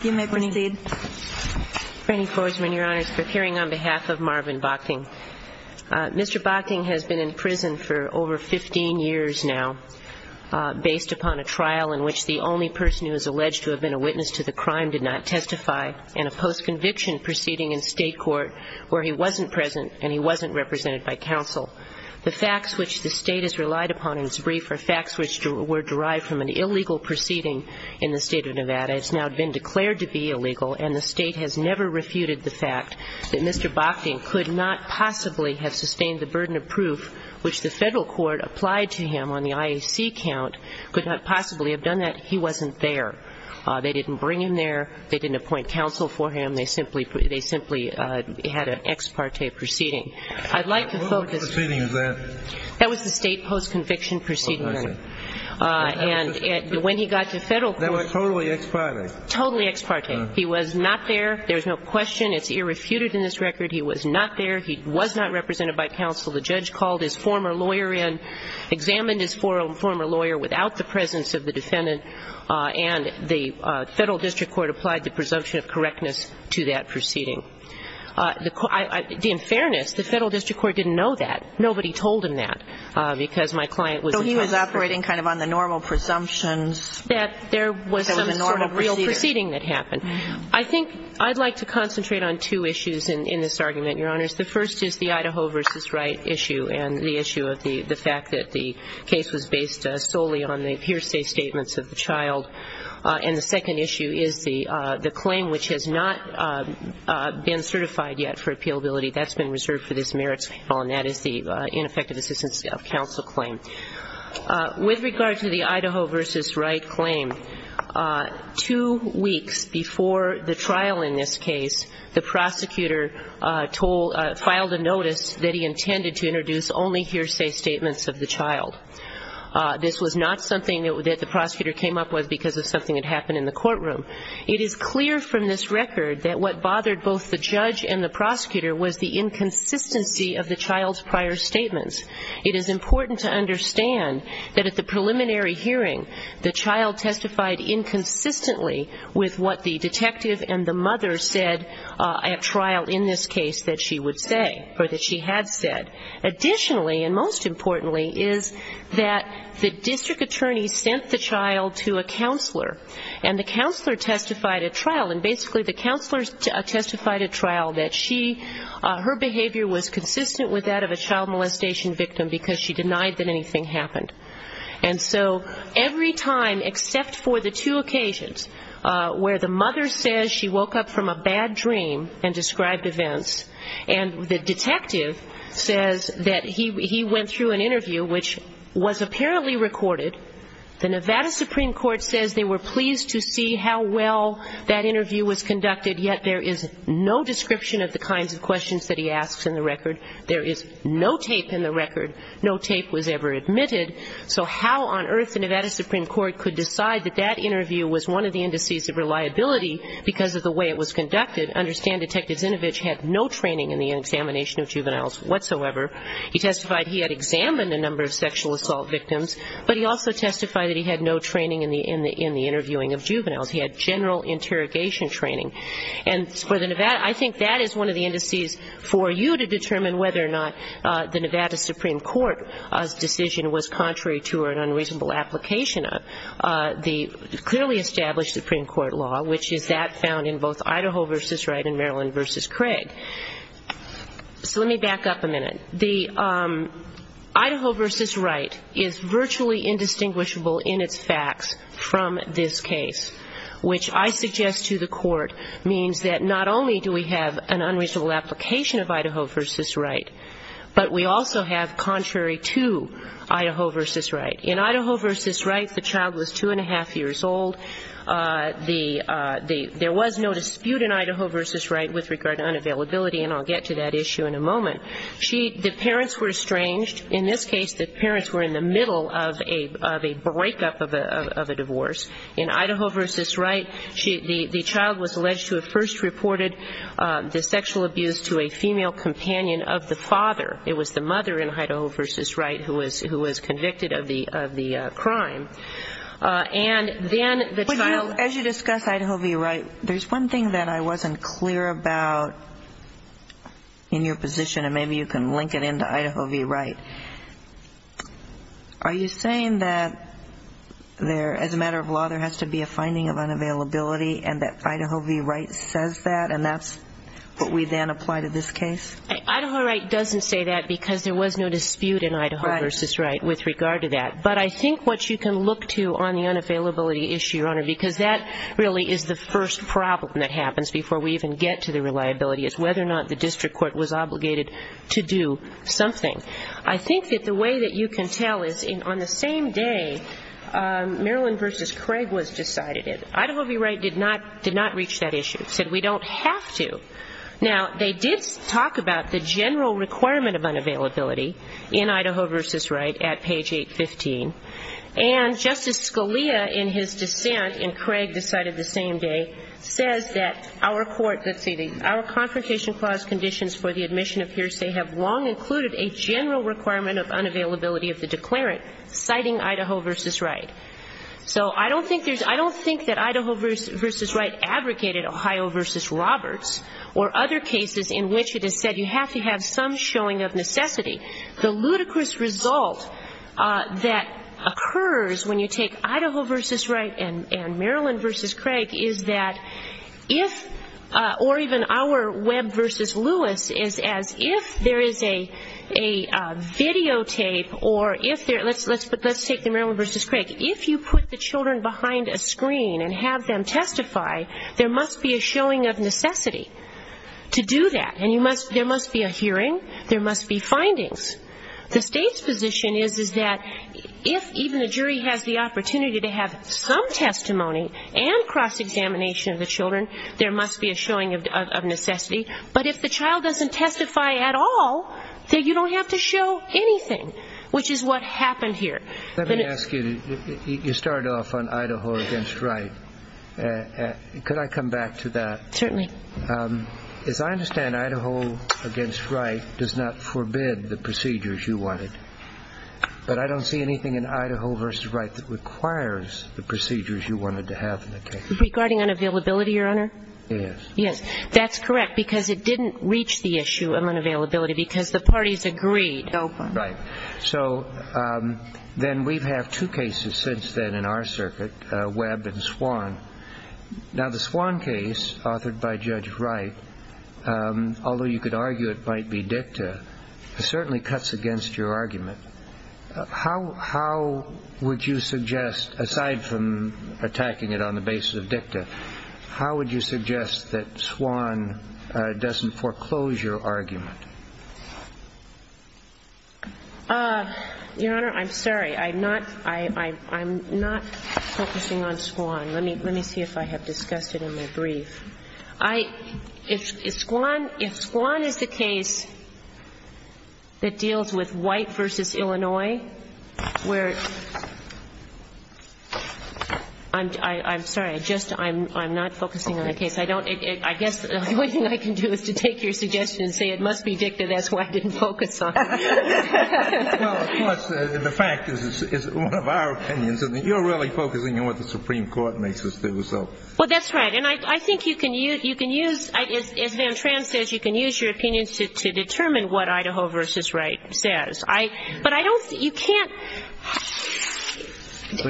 You may proceed. Franny Forsman, Your Honors, for the hearing on behalf of Marvin Bockting. Mr. Bockting has been in prison for over 15 years now based upon a trial in which the only person who is alleged to have been a witness to the crime did not testify, and a post-conviction proceeding in State court where he wasn't present and he wasn't represented by counsel. The facts which the State has relied upon in its brief are facts which were derived from an illegal proceeding in the State of Nevada. It's now been declared to be illegal, and the State has never refuted the fact that Mr. Bockting could not possibly have sustained the burden of proof which the federal court applied to him on the IAC count could not possibly have done that. He wasn't there. They didn't bring him there. They didn't appoint counsel for him. They simply had an ex parte proceeding. I'd like to quote this. What proceeding is that? That was the State post-conviction proceeding. Oh, I see. And when he got to federal court. That was totally ex parte. Totally ex parte. He was not there. There's no question. It's irrefuted in this record. He was not there. He was not represented by counsel. The judge called his former lawyer in, examined his former lawyer without the presence of the defendant, and the federal district court applied the presumption of correctness to that proceeding. In fairness, the federal district court didn't know that. Nobody told him that because my client was a. So he was operating kind of on the normal presumptions. That there was some real proceeding that happened. I think I'd like to concentrate on two issues in this argument, Your Honors. The first is the Idaho v. Wright issue and the issue of the fact that the case was based solely on the hearsay statements of the child. And the second issue is the claim which has not been certified yet for appealability. That's been reserved for this merits appeal, and that is the ineffective assistance of counsel claim. With regard to the Idaho v. Wright claim, two weeks before the trial in this case, the prosecutor filed a notice that he intended to introduce only hearsay statements of the child. This was not something that the prosecutor came up with because of something that happened in the courtroom. It is clear from this record that what bothered both the judge and the prosecutor was the inconsistency of the child's prior statements. It is important to understand that at the preliminary hearing, the child testified inconsistently with what the detective and the mother said at trial in this case that she would say, or that she had said. Additionally, and most importantly, is that the district attorney sent the child to a counselor, and the counselor testified at trial. And basically the counselor testified at trial that she, her behavior was consistent with that of a child molestation victim because she denied that anything happened. And so every time except for the two occasions where the mother says she woke up from a bad dream and described events, and the detective says that he went through an interview which was apparently recorded, the Nevada Supreme Court says they were pleased to see how well that interview was conducted, yet there is no description of the kinds of questions that he asks in the record. There is no tape in the record. No tape was ever admitted. So how on earth the Nevada Supreme Court could decide that that interview was one of the indices of reliability because of the way it was conducted? Understand Detective Zinovich had no training in the examination of juveniles whatsoever. He testified he had examined a number of sexual assault victims, but he also testified that he had no training in the interviewing of juveniles. He had general interrogation training. And for the Nevada, I think that is one of the indices for you to determine whether or not the Nevada Supreme Court's decision was contrary to or an unreasonable application of the clearly established Supreme Court law, which is that found in both Idaho v. Wright and Maryland v. Craig. So let me back up a minute. Idaho v. Wright is virtually indistinguishable in its facts from this case, which I suggest to the Court means that not only do we have an unreasonable application of Idaho v. Wright, but we also have contrary to Idaho v. Wright. In Idaho v. Wright, the child was two and a half years old. There was no dispute in Idaho v. Wright with regard to unavailability, and I'll get to that issue in a moment. The parents were estranged. In this case, the parents were in the middle of a break-up of a divorce. In Idaho v. Wright, the child was alleged to have first reported the sexual abuse to a female companion of the father. It was the mother in Idaho v. Wright who was convicted of the crime. And then the child was... And maybe you can link it into Idaho v. Wright. Are you saying that there, as a matter of law, there has to be a finding of unavailability and that Idaho v. Wright says that and that's what we then apply to this case? Idaho v. Wright doesn't say that because there was no dispute in Idaho v. Wright with regard to that. But I think what you can look to on the unavailability issue, Your Honor, because that really is the first problem that happens before we even get to the reliability, is whether or not the district court was obligated to do something. I think that the way that you can tell is on the same day, Maryland v. Craig was decided. Idaho v. Wright did not reach that issue. It said we don't have to. Now, they did talk about the general requirement of unavailability in Idaho v. Wright at page 815. And Justice Scalia, in his dissent, and Craig decided the same day, says that our confrontation clause conditions for the admission of hearsay have long included a general requirement of unavailability of the declarant, citing Idaho v. Wright. So I don't think that Idaho v. Wright abrogated Ohio v. Roberts or other cases in which it is said you have to have some showing of necessity. The ludicrous result that occurs when you take Idaho v. Wright and Maryland v. Craig is that if, or even our Webb v. Lewis is as if there is a videotape, or let's take the Maryland v. Craig. If you put the children behind a screen and have them testify, there must be a showing of necessity to do that. And there must be a hearing. There must be findings. The state's position is that if even a jury has the opportunity to have some testimony and cross-examination of the children, there must be a showing of necessity. But if the child doesn't testify at all, then you don't have to show anything, which is what happened here. Let me ask you, you started off on Idaho v. Wright. Could I come back to that? Certainly. As I understand, Idaho v. Wright does not forbid the procedures you wanted. But I don't see anything in Idaho v. Wright that requires the procedures you wanted to have in the case. Regarding unavailability, Your Honor? Yes. Yes, that's correct because it didn't reach the issue of unavailability because the parties agreed. Right. So then we've had two cases since then in our circuit, Webb and Swan. Now the Swan case authored by Judge Wright, although you could argue it might be dicta, certainly cuts against your argument. How would you suggest, aside from attacking it on the basis of dicta, how would you suggest that Swan doesn't foreclose your argument? Your Honor, I'm sorry. I'm not focusing on Swan. Let me see if I have discussed it in my brief. If Swan is the case that deals with White v. Illinois, where ‑‑ I'm sorry. I'm not focusing on the case. I guess the only thing I can do is to take your suggestion and say it must be dicta. That's why I didn't focus on it. Well, of course, the fact is it's one of our opinions. You're really focusing on what the Supreme Court makes us do. Well, that's right. And I think you can use, as Van Tran says, you can use your opinions to determine what Idaho v. Wright says. But I don't ‑‑ you can't.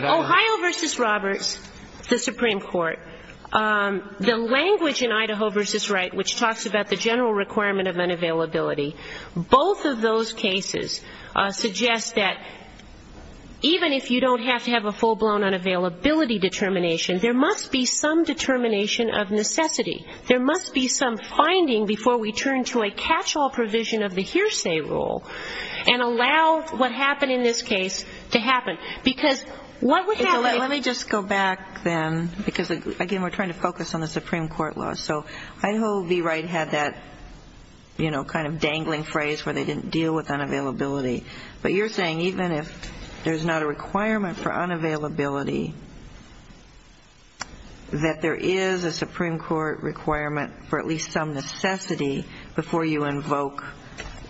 Ohio v. Roberts, the Supreme Court, the language in Idaho v. Wright, which talks about the general requirement of unavailability, both of those cases suggest that even if you don't have to have a full-blown unavailability determination, there must be some determination of necessity. There must be some finding before we turn to a catch-all provision of the hearsay rule and allow what happened in this case to happen. Because what would happen if ‑‑ Let me just go back then, because, again, we're trying to focus on the Supreme Court law. So Idaho v. Wright had that, you know, kind of dangling phrase where they didn't deal with unavailability. But you're saying even if there's not a requirement for unavailability, that there is a Supreme Court requirement for at least some necessity before you invoke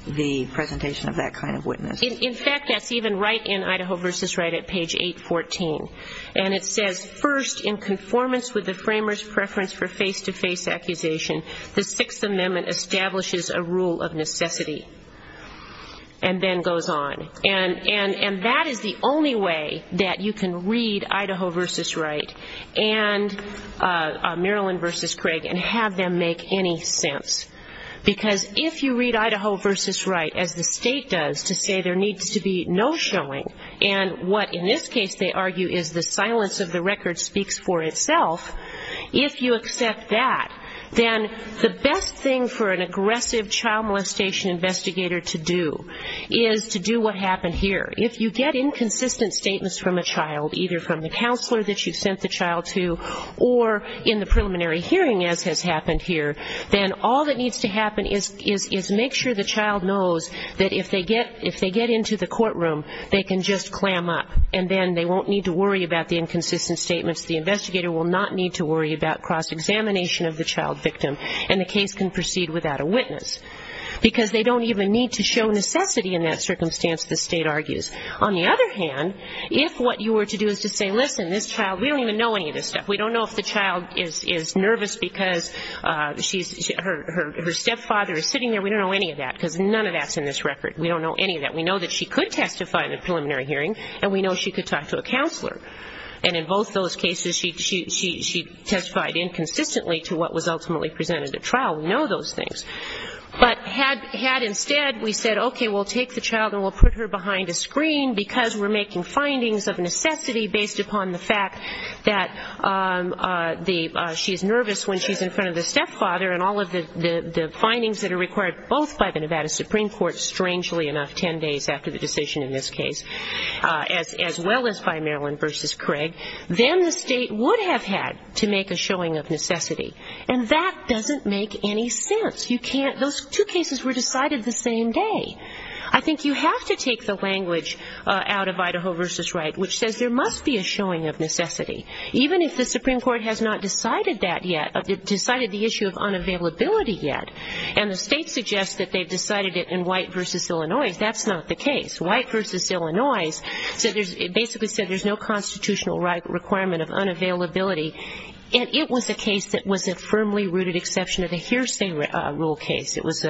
the presentation of that kind of witness. In fact, that's even right in Idaho v. Wright at page 814. And it says, First, in conformance with the framers' preference for face-to-face accusation, the Sixth Amendment establishes a rule of necessity. And then goes on. And that is the only way that you can read Idaho v. Wright and Maryland v. Craig and have them make any sense. Because if you read Idaho v. Wright as the state does to say there needs to be no showing, and what in this case they argue is the silence of the record speaks for itself, if you accept that, then the best thing for an aggressive child molestation investigator to do is to do what happened here. If you get inconsistent statements from a child, either from the counselor that you sent the child to or in the preliminary hearing as has happened here, then all that needs to happen is make sure the child knows that if they get into the courtroom, they can just clam up. And then they won't need to worry about the inconsistent statements. The investigator will not need to worry about cross-examination of the child victim and the case can proceed without a witness. Because they don't even need to show necessity in that circumstance, the state argues. On the other hand, if what you were to do is to say, listen, this child, we don't even know any of this stuff. We don't know if the child is nervous because her stepfather is sitting there. We don't know any of that because none of that's in this record. We don't know any of that. We know that she could testify in the preliminary hearing and we know she could talk to a counselor. And in both those cases, she testified inconsistently to what was ultimately presented at trial. We know those things. But had instead we said, okay, we'll take the child and we'll put her behind a screen because we're making findings of necessity based upon the fact that she's nervous when she's in front of the stepfather and all of the findings that are required both by the Nevada Supreme Court, strangely enough, 10 days after the decision in this case, as well as by Maryland v. Craig, then the state would have had to make a showing of necessity. And that doesn't make any sense. Those two cases were decided the same day. I think you have to take the language out of Idaho v. Wright, which says there must be a showing of necessity. Even if the Supreme Court has not decided that yet, decided the issue of unavailability yet, and the state suggests that they've decided it in White v. Illinois, that's not the case. White v. Illinois basically said there's no constitutional requirement of unavailability. And it was a case that was a firmly rooted exception of the hearsay rule case. It was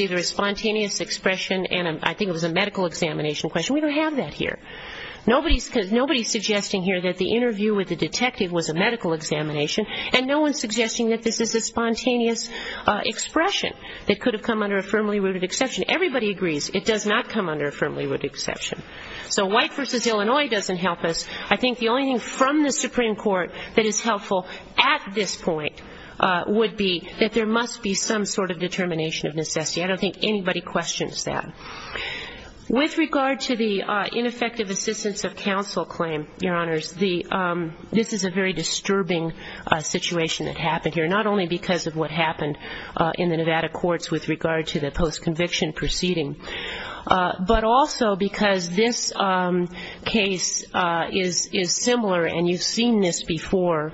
either a spontaneous expression and I think it was a medical examination question. We don't have that here. Nobody's suggesting here that the interview with the detective was a medical examination and no one's suggesting that this is a spontaneous expression that could have come under a firmly rooted exception. Everybody agrees it does not come under a firmly rooted exception. So White v. Illinois doesn't help us. I think the only thing from the Supreme Court that is helpful at this point would be that there must be some sort of determination of necessity. I don't think anybody questions that. With regard to the ineffective assistance of counsel claim, Your Honors, this is a very disturbing situation that happened here, not only because of what happened in the Nevada courts with regard to the post-conviction proceeding, but also because this case is similar, and you've seen this before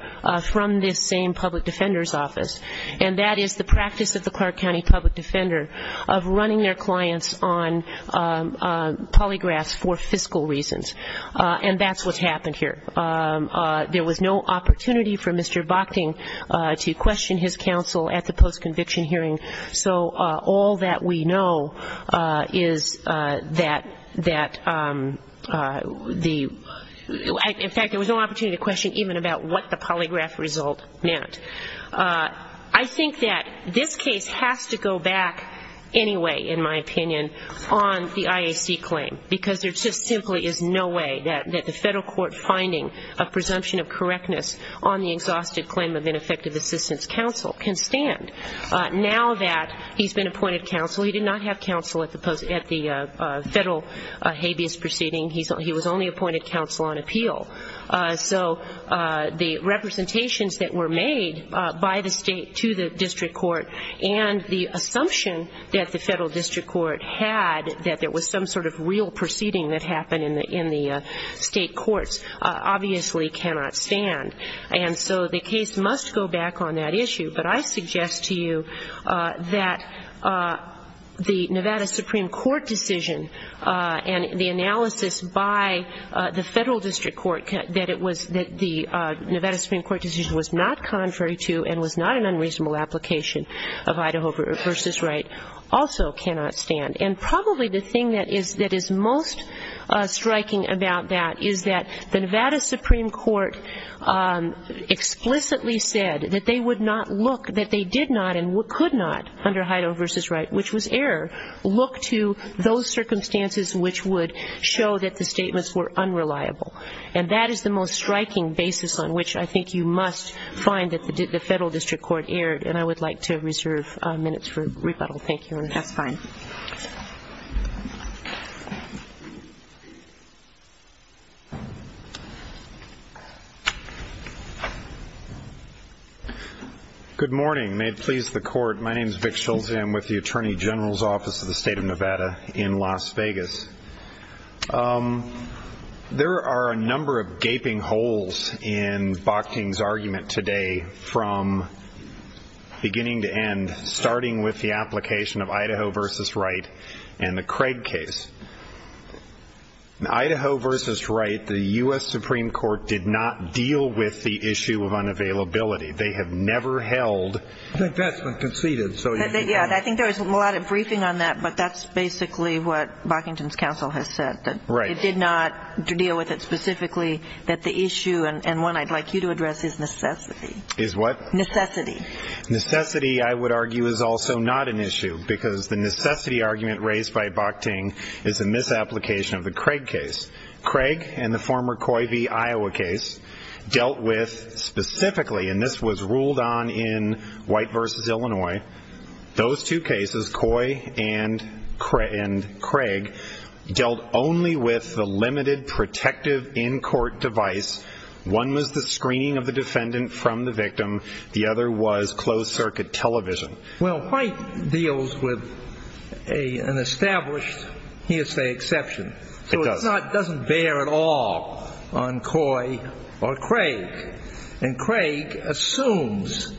from this same public defender's office, and that is the practice of the Clark County public defender of running their clients on polygraphs for fiscal reasons. And that's what's happened here. There was no opportunity for Mr. Bokting to question his counsel at the post-conviction hearing. So all that we know is that the, in fact, there was no opportunity to question even about what the polygraph result meant. I think that this case has to go back anyway, in my opinion, on the IAC claim, because there just simply is no way that the federal court finding a presumption of correctness on the exhausted claim of ineffective assistance counsel can stand. Now that he's been appointed counsel, he did not have counsel at the federal habeas proceeding. He was only appointed counsel on appeal. So the representations that were made by the state to the district court and the assumption that the federal district court had that there was some sort of real proceeding that happened in the state courts obviously cannot stand. And so the case must go back on that issue. But I suggest to you that the Nevada Supreme Court decision and the analysis by the federal district court that the Nevada Supreme Court decision was not contrary to and was not an unreasonable application of Idaho v. Wright also cannot stand. And probably the thing that is most striking about that is that the Nevada Supreme Court explicitly said that they would not look, that they did not and could not under Idaho v. Wright, which was error, look to those circumstances which would show that the statements were unreliable. And that is the most striking basis on which I think you must find that the federal district court erred. And I would like to reserve minutes for rebuttal. Thank you. That's fine. Good morning. May it please the Court. My name is Vic Schulze. I'm with the Attorney General's Office of the State of Nevada in Las Vegas. There are a number of gaping holes in Bockington's argument today from beginning to end, starting with the application of Idaho v. Wright and the Craig case. In Idaho v. Wright, the U.S. Supreme Court did not deal with the issue of unavailability. They have never held. I think that's been conceded. Yeah, and I think there was a lot of briefing on that, but that's basically what Bockington's counsel has said, that it did not deal with it specifically, that the issue, and one I'd like you to address, is necessity. Is what? Necessity. Necessity, I would argue, is also not an issue, because the necessity argument raised by Bockting is a misapplication of the Craig case. Craig and the former Coy v. Iowa case dealt with specifically, and this was ruled on in Wright v. Illinois, those two cases, Coy and Craig, dealt only with the limited protective in-court device. One was the screening of the defendant from the victim. The other was closed-circuit television. Well, Wright deals with an established hearsay exception. It does. So it doesn't bear at all on Coy or Craig. And Craig assumes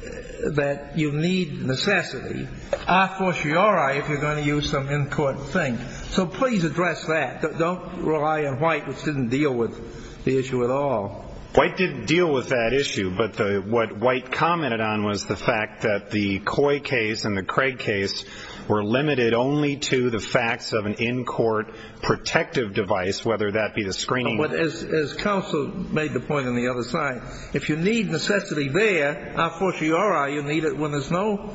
that you need necessity a fortiori if you're going to use some in-court thing. So please address that. Don't rely on Wright, which didn't deal with the issue at all. Wright didn't deal with that issue, but what Wright commented on was the fact that the Coy case and the Craig case were limited only to the facts of an in-court protective device, whether that be the screening. But as counsel made the point on the other side, if you need necessity there, a fortiori, you need it when there's no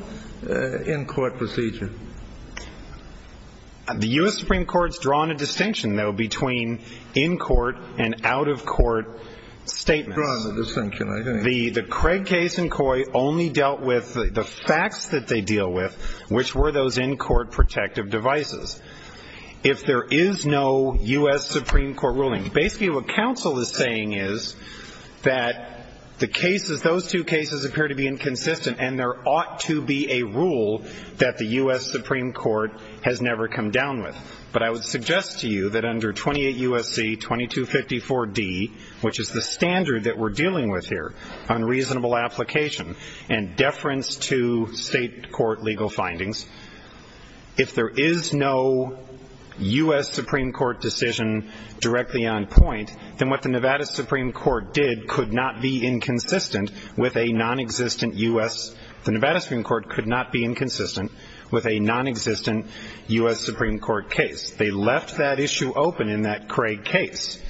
in-court procedure. The U.S. Supreme Court's drawn a distinction, though, between in-court and out-of-court statements. Drawn a distinction, I think. The Craig case and Coy only dealt with the facts that they deal with, which were those in-court protective devices. If there is no U.S. Supreme Court ruling, basically what counsel is saying is that those two cases appear to be inconsistent and there ought to be a rule that the U.S. Supreme Court has never come down with. But I would suggest to you that under 28 U.S.C. 2254D, which is the standard that we're dealing with here on reasonable application and deference to state court legal findings, if there is no U.S. Supreme Court decision directly on point, then what the Nevada Supreme Court did could not be inconsistent with a nonexistent U.S. The Nevada Supreme Court could not be inconsistent with a nonexistent U.S. Supreme Court case. They left that issue open in that Craig case.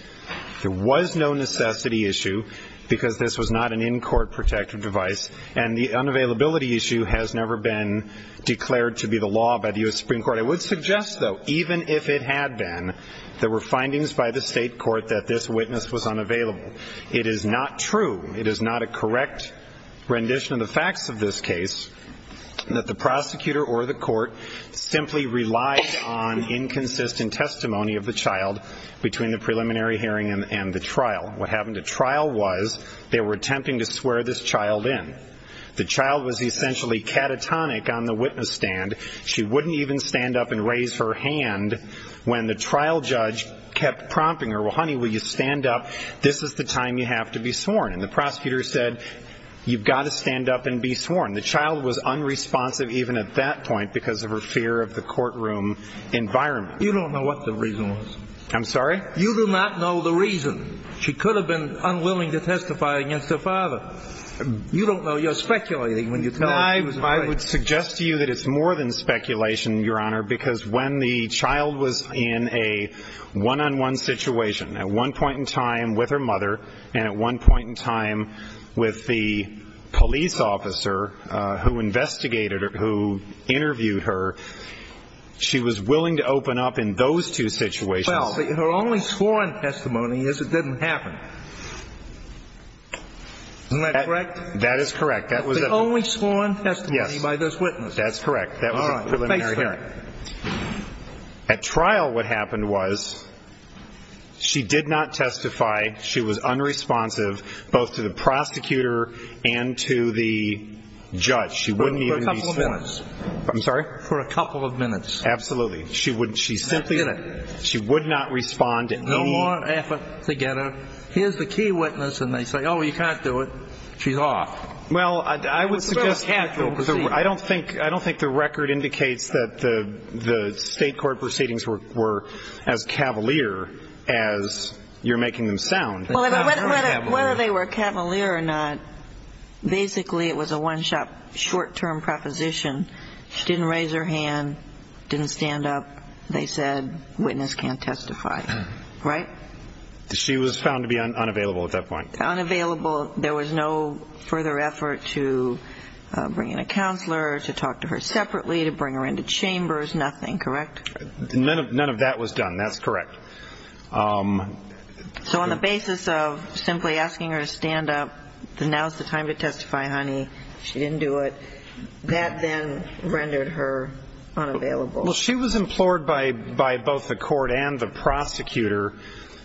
There was no necessity issue because this was not an in-court protective device and the unavailability issue has never been declared to be the law by the U.S. Supreme Court. I would suggest, though, even if it had been, there were findings by the state court that this witness was unavailable. It is not true. It is not a correct rendition of the facts of this case that the prosecutor or the court simply relied on inconsistent testimony of the child between the preliminary hearing and the trial. What happened at trial was they were attempting to swear this child in. The child was essentially catatonic on the witness stand. She wouldn't even stand up and raise her hand when the trial judge kept prompting her, well, honey, will you stand up? This is the time you have to be sworn. And the prosecutor said, you've got to stand up and be sworn. The child was unresponsive even at that point because of her fear of the courtroom environment. You don't know what the reason was. I'm sorry? You do not know the reason. She could have been unwilling to testify against her father. You don't know. You're speculating when you tell us. I would suggest to you that it's more than speculation, Your Honor, because when the child was in a one-on-one situation, at one point in time with her mother and at one point in time with the police officer who investigated her, who interviewed her, she was willing to open up in those two situations. Well, her only sworn testimony is it didn't happen. Isn't that correct? That is correct. That was the only sworn testimony by this witness. Yes, that's correct. That was a preliminary hearing. All right. Face me. At trial, what happened was she did not testify. She was unresponsive both to the prosecutor and to the judge. She wouldn't even be sworn. For a couple of minutes. I'm sorry? For a couple of minutes. Absolutely. She simply would not respond to any. No more effort to get her. Here's the key witness, and they say, oh, you can't do it. She's off. Well, I would suggest I don't think the record indicates that the state court proceedings were as cavalier as you're making them sound. Whether they were cavalier or not, basically it was a one-shot short-term proposition. She didn't raise her hand, didn't stand up. They said witness can't testify. Right? She was found to be unavailable at that point. Unavailable. There was no further effort to bring in a counselor, to talk to her separately, to bring her into chambers. Nothing. Correct? None of that was done. That's correct. So on the basis of simply asking her to stand up, now's the time to testify, honey. She didn't do it. That then rendered her unavailable. Well, she was implored by both the court and the prosecutor.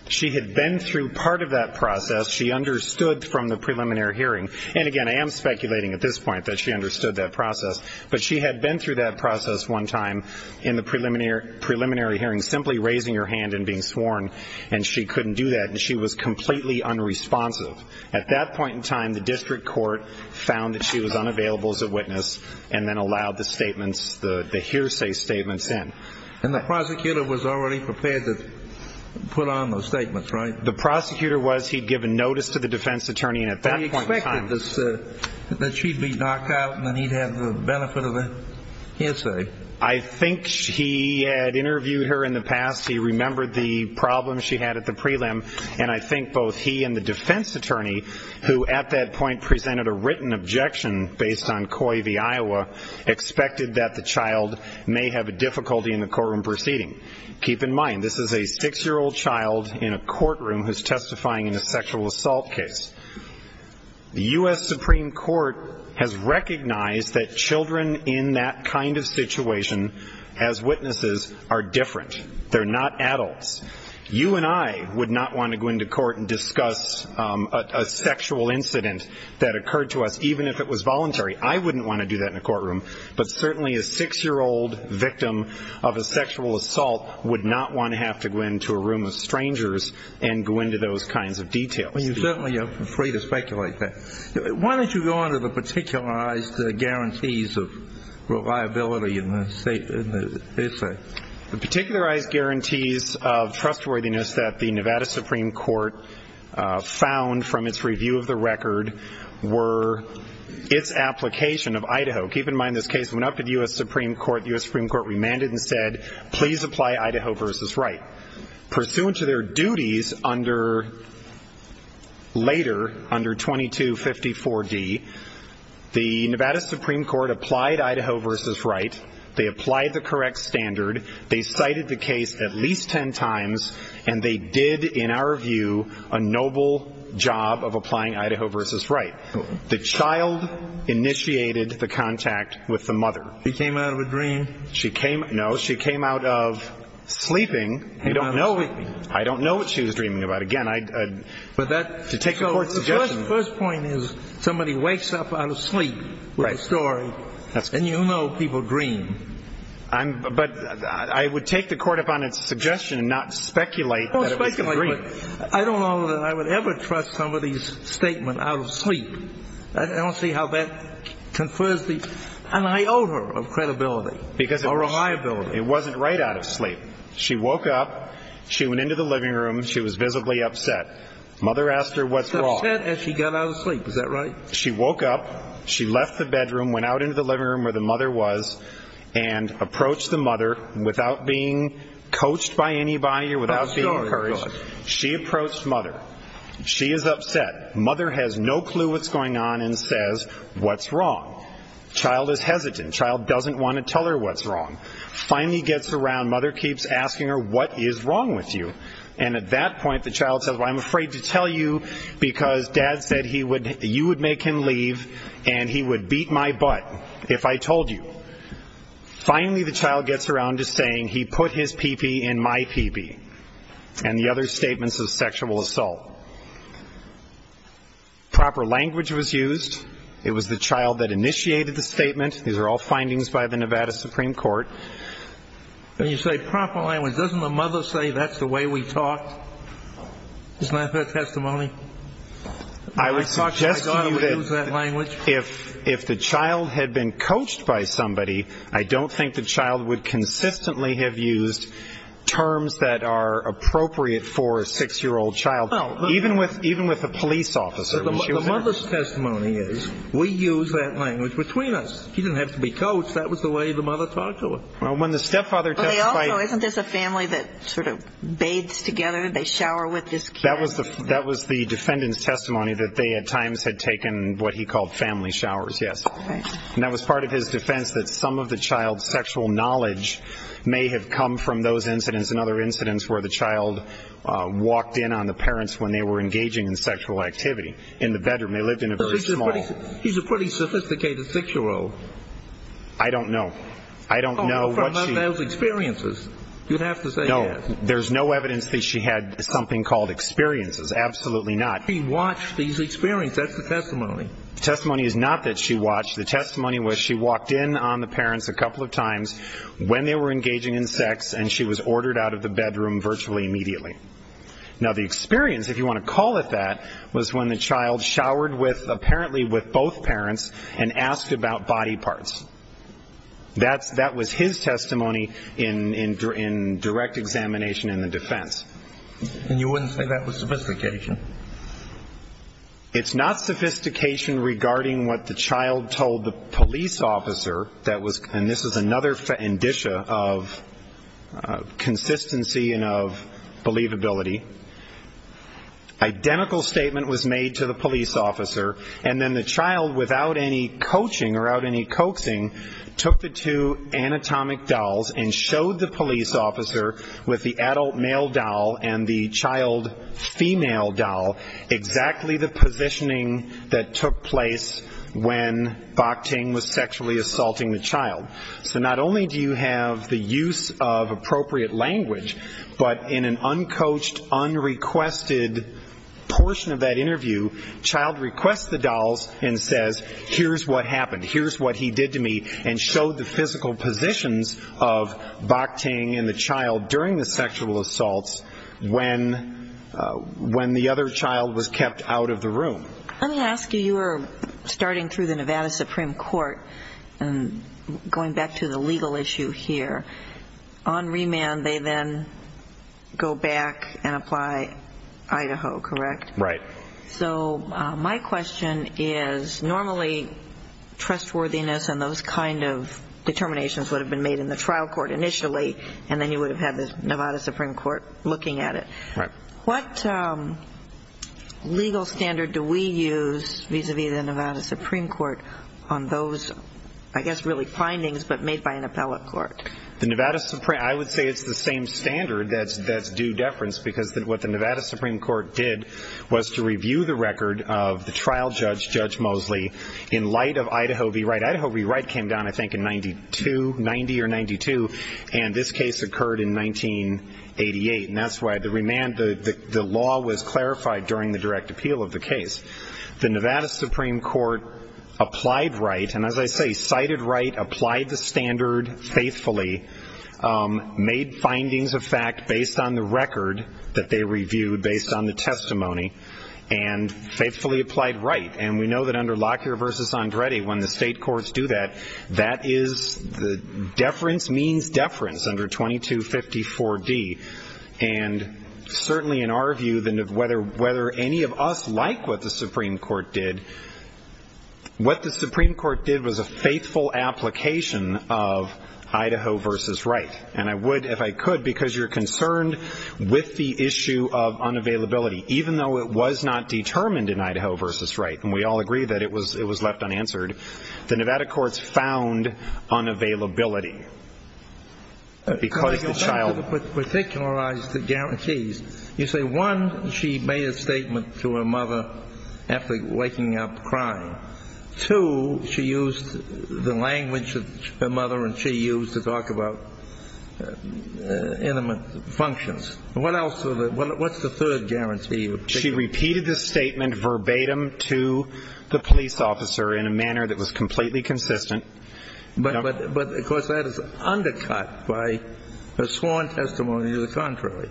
She had been through part of that process. She understood from the preliminary hearing. And, again, I am speculating at this point that she understood that process. But she had been through that process one time in the preliminary hearing, simply raising her hand and being sworn. And she couldn't do that. And she was completely unresponsive. At that point in time, the district court found that she was unavailable as a witness and then allowed the statements, the hearsay statements in. And the prosecutor was already prepared to put on those statements, right? The prosecutor was. He had given notice to the defense attorney. He expected that she'd be knocked out and that he'd have the benefit of the hearsay. I think he had interviewed her in the past. He remembered the problems she had at the prelim. And I think both he and the defense attorney, who at that point presented a written objection based on COI v. Iowa, expected that the child may have a difficulty in the courtroom proceeding. Keep in mind, this is a 6-year-old child in a courtroom who's testifying in a sexual assault case. The U.S. Supreme Court has recognized that children in that kind of situation as witnesses are different. They're not adults. You and I would not want to go into court and discuss a sexual incident that occurred to us, even if it was voluntary. I wouldn't want to do that in a courtroom. But certainly a 6-year-old victim of a sexual assault would not want to have to go into a room of strangers and go into those kinds of details. Well, you certainly are free to speculate that. Why don't you go on to the particularized guarantees of reliability in the essay? The particularized guarantees of trustworthiness that the Nevada Supreme Court found from its review of the record were its application of Idaho. Keep in mind, this case went up to the U.S. Supreme Court. The U.S. Supreme Court remanded and said, please apply Idaho v. Wright. Pursuant to their duties later, under 2254D, the Nevada Supreme Court applied Idaho v. Wright. They applied the correct standard. They cited the case at least 10 times, and they did, in our view, a noble job of applying Idaho v. Wright. The child initiated the contact with the mother. She came out of a dream? I don't know what she was dreaming about. Again, to take the court's suggestion. The first point is somebody wakes up out of sleep with a story, and you know people dream. But I would take the court upon its suggestion not to speculate that it was a dream. I don't know that I would ever trust somebody's statement out of sleep. I don't see how that confers an iota of credibility or reliability. It wasn't right out of sleep. She woke up. She went into the living room. She was visibly upset. Mother asked her what's wrong. She's upset, and she got out of sleep. Is that right? She woke up. She left the bedroom, went out into the living room where the mother was, and approached the mother. Without being coached by anybody or without being encouraged, she approached mother. She is upset. Mother has no clue what's going on and says, what's wrong? Child is hesitant. Child doesn't want to tell her what's wrong. Finally gets around. Mother keeps asking her, what is wrong with you? And at that point the child says, well, I'm afraid to tell you because dad said you would make him leave and he would beat my butt if I told you. Finally the child gets around to saying he put his pee-pee in my pee-pee and the other statements of sexual assault. Proper language was used. It was the child that initiated the statement. These are all findings by the Nevada Supreme Court. You say proper language. Doesn't the mother say that's the way we talked? Isn't that her testimony? I would suggest to you that if the child had been coached by somebody, I don't think the child would consistently have used terms that are appropriate for a 6-year-old child, even with a police officer. The mother's testimony is we used that language between us. He didn't have to be coached. That was the way the mother talked to him. Isn't this a family that sort of bathes together? They shower with this kid? That was the defendant's testimony that they at times had taken what he called family showers, yes. And that was part of his defense that some of the child's sexual knowledge may have come from those incidents and other incidents where the child walked in on the parents when they were engaging in sexual activity in the bedroom. They lived in a very small. He's a pretty sophisticated 6-year-old. I don't know. I don't know what she. From those experiences. You'd have to say yes. No. There's no evidence that she had something called experiences. Absolutely not. She watched these experiences. That's the testimony. The testimony is not that she watched. The testimony was she walked in on the parents a couple of times when they were engaging in sex and she was ordered out of the bedroom virtually immediately. Now, the experience, if you want to call it that, was when the child showered apparently with both parents and asked about body parts. That was his testimony in direct examination in the defense. And you wouldn't say that was sophistication? It's not sophistication regarding what the child told the police officer. And this is another indicia of consistency and of believability. Identical statement was made to the police officer. And then the child, without any coaching or out any coaxing, took the two anatomic dolls and showed the police officer with the adult male doll and the child female doll exactly the positioning that took place when Bok Ting was sexually assaulting the child. So not only do you have the use of appropriate language, but in an uncoached, unrequested portion of that interview, child requests the dolls and says, here's what happened, here's what he did to me, and showed the physical positions of Bok Ting and the child during the sexual assaults when the other child was kept out of the room. Let me ask you, you were starting through the Nevada Supreme Court and going back to the legal issue here. On remand, they then go back and apply Idaho, correct? Right. So my question is normally trustworthiness and those kind of determinations would have been made in the trial court initially and then you would have had the Nevada Supreme Court looking at it. Right. What legal standard do we use vis-a-vis the Nevada Supreme Court on those, I guess, really findings but made by an appellate court? The Nevada Supreme Court, I would say it's the same standard that's due deference because what the Nevada Supreme Court did was to review the record of the trial judge, Judge Mosley, in light of Idaho v. Wright. Idaho v. Wright came down, I think, in 92, 90 or 92, and this case occurred in 1988, and that's why the law was clarified during the direct appeal of the case. The Nevada Supreme Court applied Wright, and as I say, cited Wright, applied the standard faithfully, made findings of fact based on the record that they reviewed, based on the testimony, and faithfully applied Wright. And we know that under Lockyer v. Andretti, when the state courts do that, that is the deference means deference under 2254D. And certainly in our view, whether any of us like what the Supreme Court did, what the Supreme Court did was a faithful application of Idaho v. Wright. And I would, if I could, because you're concerned with the issue of unavailability, even though it was not determined in Idaho v. Wright, and we all agree that it was left unanswered, the Nevada courts found unavailability. Because the child... Two, she used the language that her mother and she used to talk about intimate functions. What else? What's the third guarantee? She repeated the statement verbatim to the police officer in a manner that was completely consistent. But, of course, that is undercut by a sworn testimony to the contrary.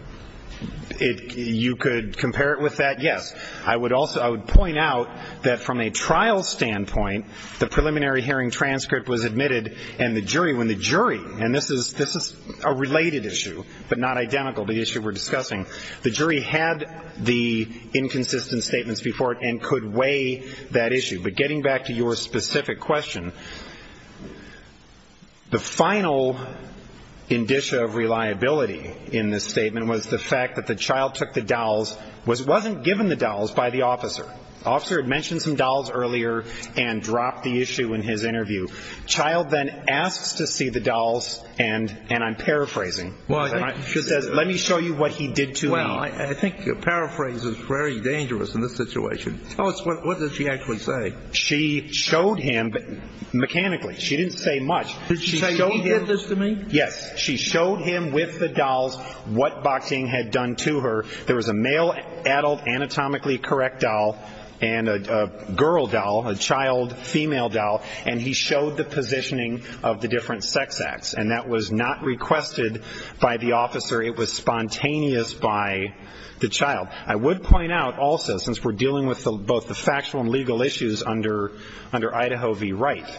You could compare it with that, yes. I would point out that from a trial standpoint, the preliminary hearing transcript was admitted, and the jury, when the jury, and this is a related issue, but not identical to the issue we're discussing, the jury had the inconsistent statements before it and could weigh that issue. But getting back to your specific question, the final indicia of reliability in this statement was the fact that the child took the dowels, wasn't given the dowels by the officer. The officer had mentioned some dowels earlier and dropped the issue in his interview. The child then asks to see the dowels, and I'm paraphrasing. She says, let me show you what he did to me. Well, I think paraphrasing is very dangerous in this situation. Tell us, what did she actually say? She showed him mechanically. She didn't say much. Did she say he did this to me? Yes. She showed him with the dowels what Bakhting had done to her. There was a male adult anatomically correct dowel and a girl dowel, a child female dowel, and he showed the positioning of the different sex acts. And that was not requested by the officer. It was spontaneous by the child. I would point out also, since we're dealing with both the factual and legal issues under Idaho v. Wright,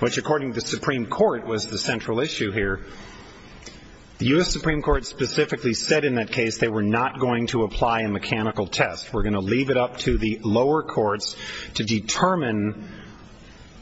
which according to the Supreme Court was the central issue here, the U.S. Supreme Court specifically said in that case they were not going to apply a mechanical test. We're going to leave it up to the lower courts to determine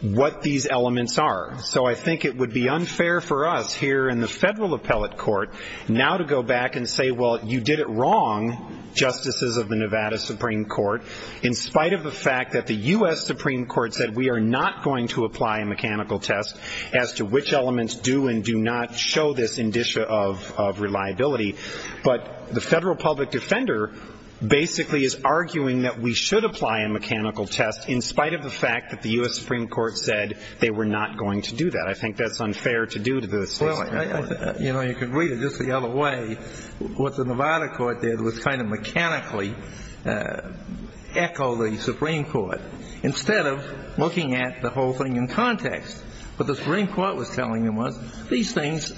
what these elements are. So I think it would be unfair for us here in the federal appellate court now to go back and say, well, you did it wrong, Justices of the Nevada Supreme Court, in spite of the fact that the U.S. Supreme Court said we are not going to apply a mechanical test as to which elements do and do not show this indicia of reliability. But the federal public defender basically is arguing that we should apply a mechanical test in spite of the fact that the U.S. Supreme Court said they were not going to do that. I think that's unfair to do to the Supreme Court. Well, you know, you can read it just the other way. What the Nevada court did was kind of mechanically echo the Supreme Court instead of looking at the whole thing in context. What the Supreme Court was telling them was these things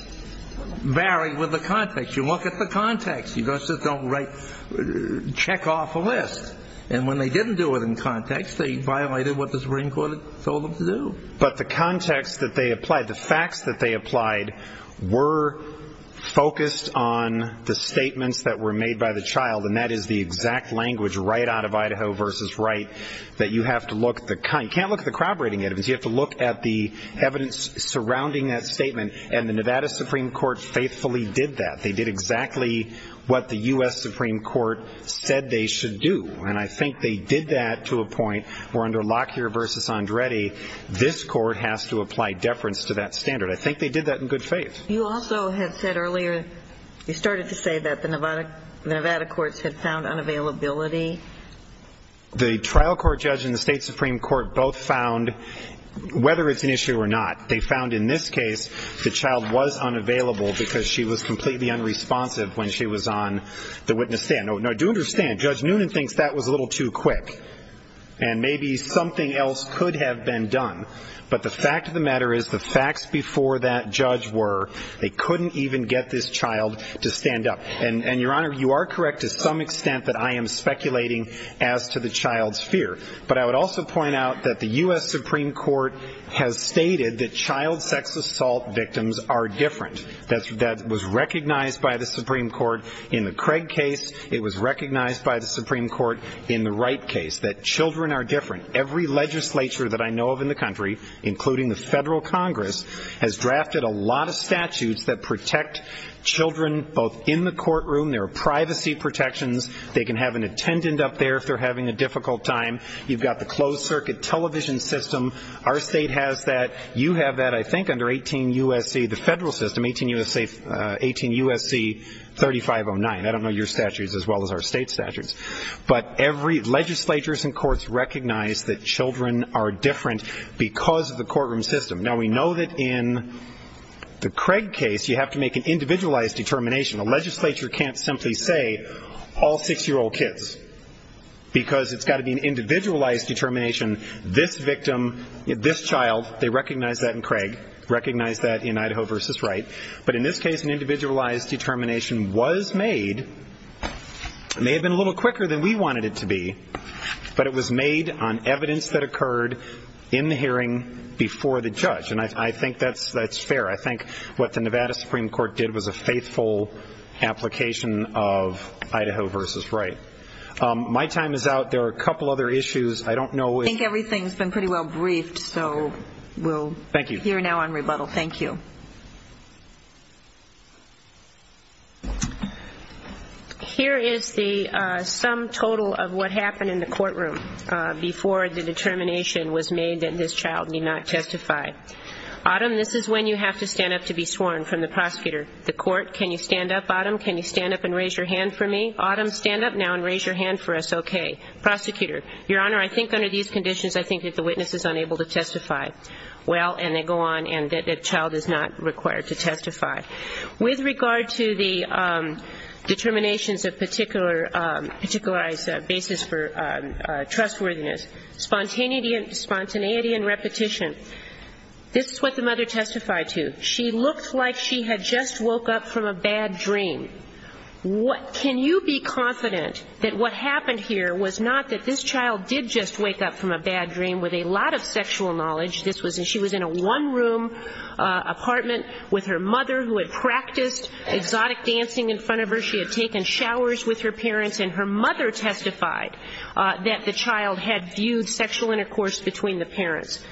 vary with the context. You look at the context. You just don't check off a list. And when they didn't do it in context, they violated what the Supreme Court told them to do. But the context that they applied, the facts that they applied, were focused on the statements that were made by the child, and that is the exact language right out of Idaho versus right that you have to look at the kind. You can't look at the crowd rating evidence. You have to look at the evidence surrounding that statement. And the Nevada Supreme Court faithfully did that. They did exactly what the U.S. Supreme Court said they should do. And I think they did that to a point where under Lockyer v. Andretti, this court has to apply deference to that standard. I think they did that in good faith. You also had said earlier, you started to say that the Nevada courts had found unavailability. The trial court judge and the state Supreme Court both found, whether it's an issue or not, they found in this case the child was unavailable because she was completely unresponsive when she was on the witness stand. Now, do understand, Judge Noonan thinks that was a little too quick, and maybe something else could have been done. But the fact of the matter is the facts before that judge were they couldn't even get this child to stand up. And, Your Honor, you are correct to some extent that I am speculating as to the child's fear. But I would also point out that the U.S. Supreme Court has stated that child sex assault victims are different. That was recognized by the Supreme Court in the Craig case. It was recognized by the Supreme Court in the Wright case, that children are different. Every legislature that I know of in the country, including the Federal Congress, has drafted a lot of statutes that protect children both in the courtroom. There are privacy protections. They can have an attendant up there if they're having a difficult time. You've got the closed circuit television system. Our state has that. You have that, I think, under 18 U.S.C., the federal system, 18 U.S.C. 3509. I don't know your statutes as well as our state's statutes. But every legislature and courts recognize that children are different because of the courtroom system. Now, we know that in the Craig case you have to make an individualized determination. A legislature can't simply say all six-year-old kids because it's got to be an individualized determination. This victim, this child, they recognize that in Craig, recognize that in Idaho v. Wright. But in this case, an individualized determination was made, may have been a little quicker than we wanted it to be, but it was made on evidence that occurred in the hearing before the judge. And I think that's fair. I think what the Nevada Supreme Court did was a faithful application of Idaho v. Wright. My time is out. There are a couple other issues. I don't know if- I think everything's been pretty well briefed, so we'll hear now on rebuttal. Thank you. Here is the sum total of what happened in the courtroom before the determination was made that this child need not testify. Autumn, this is when you have to stand up to be sworn from the prosecutor. The court, can you stand up, Autumn? Can you stand up and raise your hand for me? Autumn, stand up now and raise your hand for us, okay. Prosecutor, Your Honor, I think under these conditions I think that the witness is unable to testify. Well, and they go on and the child is not required to testify. With regard to the determinations of particularized basis for trustworthiness, spontaneity and repetition, this is what the mother testified to. She looked like she had just woke up from a bad dream. Can you be confident that what happened here was not that this child did just wake up from a bad dream with a lot of sexual knowledge? She was in a one-room apartment with her mother who had practiced exotic dancing in front of her. She had taken showers with her parents, and her mother testified that the child had viewed sexual intercourse between the parents.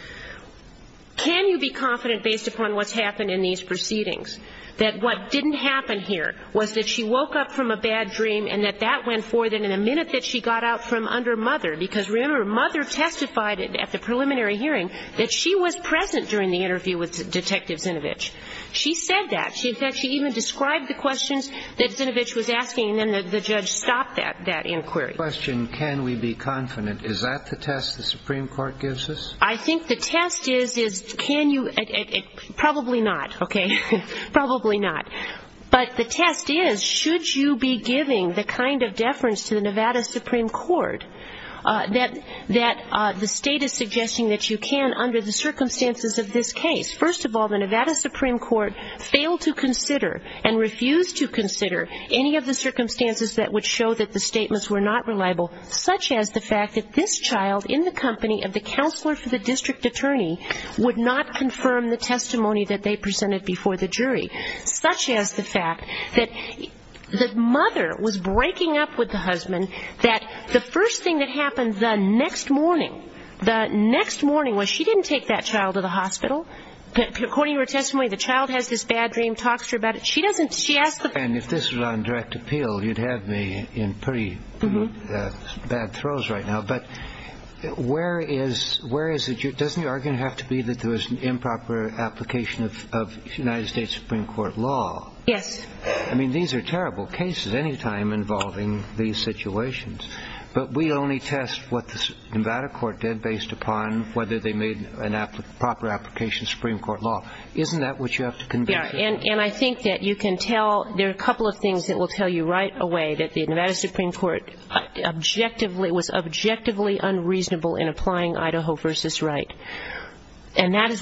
Can you be confident, based upon what's happened in these proceedings, that what didn't happen here was that she woke up from a bad dream and that that went forth, and that in a minute that she got out from under mother, because remember, mother testified at the preliminary hearing that she was present during the interview with Detective Zinovich. She said that. She even described the questions that Zinovich was asking, and then the judge stopped that inquiry. The question, can we be confident, is that the test the Supreme Court gives us? I think the test is can you – probably not, okay, probably not. But the test is should you be giving the kind of deference to the Nevada Supreme Court that the state is suggesting that you can under the circumstances of this case? First of all, the Nevada Supreme Court failed to consider and refused to consider any of the circumstances that would show that the statements were not reliable, such as the fact that this child in the company of the counselor for the district attorney such as the fact that the mother was breaking up with the husband, that the first thing that happened the next morning, the next morning, was she didn't take that child to the hospital. According to her testimony, the child has this bad dream, talks to her about it. And if this was on direct appeal, you'd have me in pretty bad throes right now. But where is – doesn't your argument have to be that there was an improper application of United States Supreme Court law? Yes. I mean, these are terrible cases any time involving these situations. But we only test what the Nevada court did based upon whether they made a proper application of Supreme Court law. Isn't that what you have to convince us? Yeah, and I think that you can tell – there are a couple of things that will tell you right away that the Nevada Supreme Court was objectively unreasonable in applying Idaho v. Wright. And that is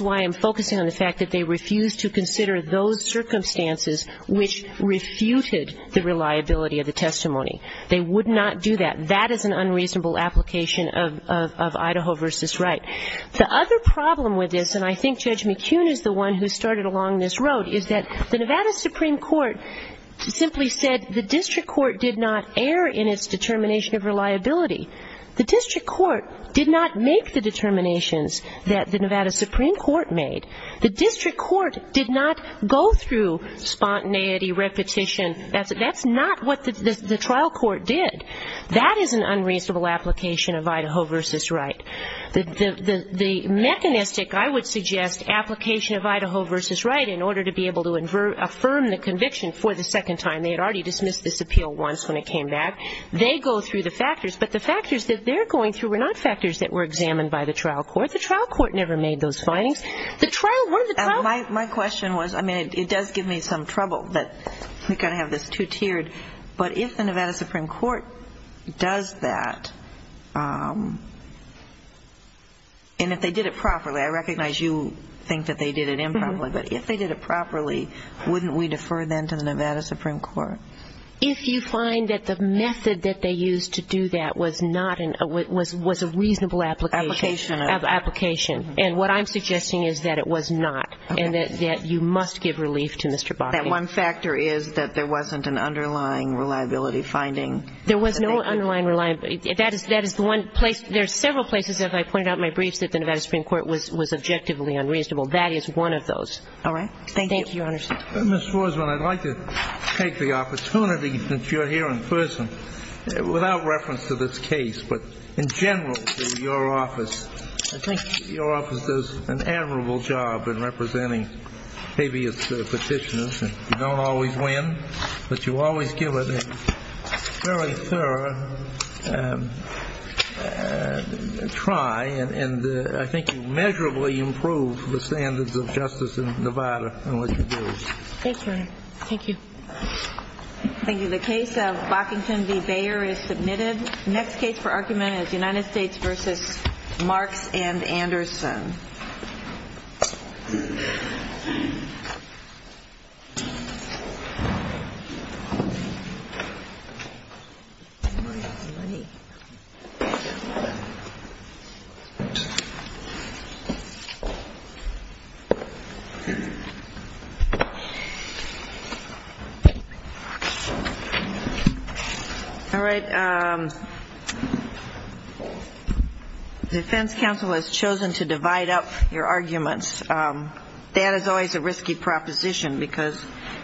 why I'm focusing on the fact that they refused to consider those circumstances which refuted the reliability of the testimony. They would not do that. That is an unreasonable application of Idaho v. Wright. The other problem with this, and I think Judge McKeown is the one who started along this road, is that the Nevada Supreme Court simply said the district court did not err in its determination of reliability. The district court did not make the determinations that the Nevada Supreme Court made. The district court did not go through spontaneity, repetition. That's not what the trial court did. That is an unreasonable application of Idaho v. Wright. The mechanistic, I would suggest, application of Idaho v. Wright in order to be able to affirm the conviction for the second time. They had already dismissed this appeal once when it came back. They go through the factors, but the factors that they're going through were not factors that were examined by the trial court. The trial court never made those findings. The trial – one of the trial – My question was – I mean, it does give me some trouble that we kind of have this two-tiered. But if the Nevada Supreme Court does that, and if they did it properly – I recognize you think that they did it improperly – but if they did it properly, wouldn't we defer then to the Nevada Supreme Court? If you find that the method that they used to do that was not – was a reasonable application. Application. Application. And what I'm suggesting is that it was not, and that you must give relief to Mr. Bakke. That one factor is that there wasn't an underlying reliability finding. There was no underlying reliability. That is the one place – there are several places, as I pointed out in my briefs, that the Nevada Supreme Court was objectively unreasonable. That is one of those. All right. Thank you. Thank you, Your Honor. Ms. Rosman, I'd like to take the opportunity, since you're here in person, without reference to this case, but in general, your office does an admirable job in representing habeas petitioners. You don't always win, but you always give it a fairly thorough try, and I think you measurably improve the standards of justice in Nevada in what you do. Thanks, Your Honor. Thank you. Thank you. The case of Bockington v. Bayer is submitted. The next case for argument is United States v. Marks and Anderson. All right. The defense counsel has chosen to divide up your arguments. That is always a risky proposition because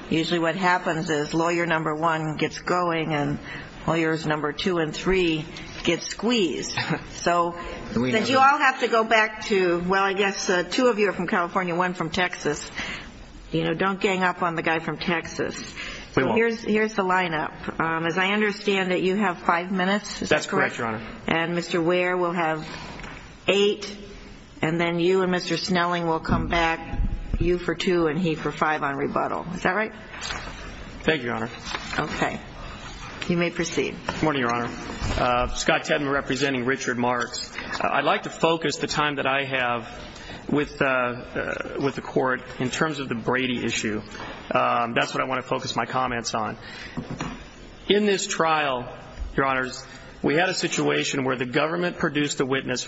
usually what happens is lawyer number one gets going and lawyers number two and three get squeezed. So you all have to go back to – well, I guess two of you are from California, one from Texas. You know, don't gang up on the guy from Texas. We won't. Here's the lineup. As I understand it, you have five minutes, is that correct? That's correct, Your Honor. And Mr. Ware will have eight, and then you and Mr. Snelling will come back, you for two and he for five on rebuttal. Is that right? Thank you, Your Honor. Okay. You may proceed. Good morning, Your Honor. Scott Tedman representing Richard Marks. I'd like to focus the time that I have with the court in terms of the Brady issue. That's what I want to focus my comments on. In this trial, Your Honors, we had a situation where the government produced a witness.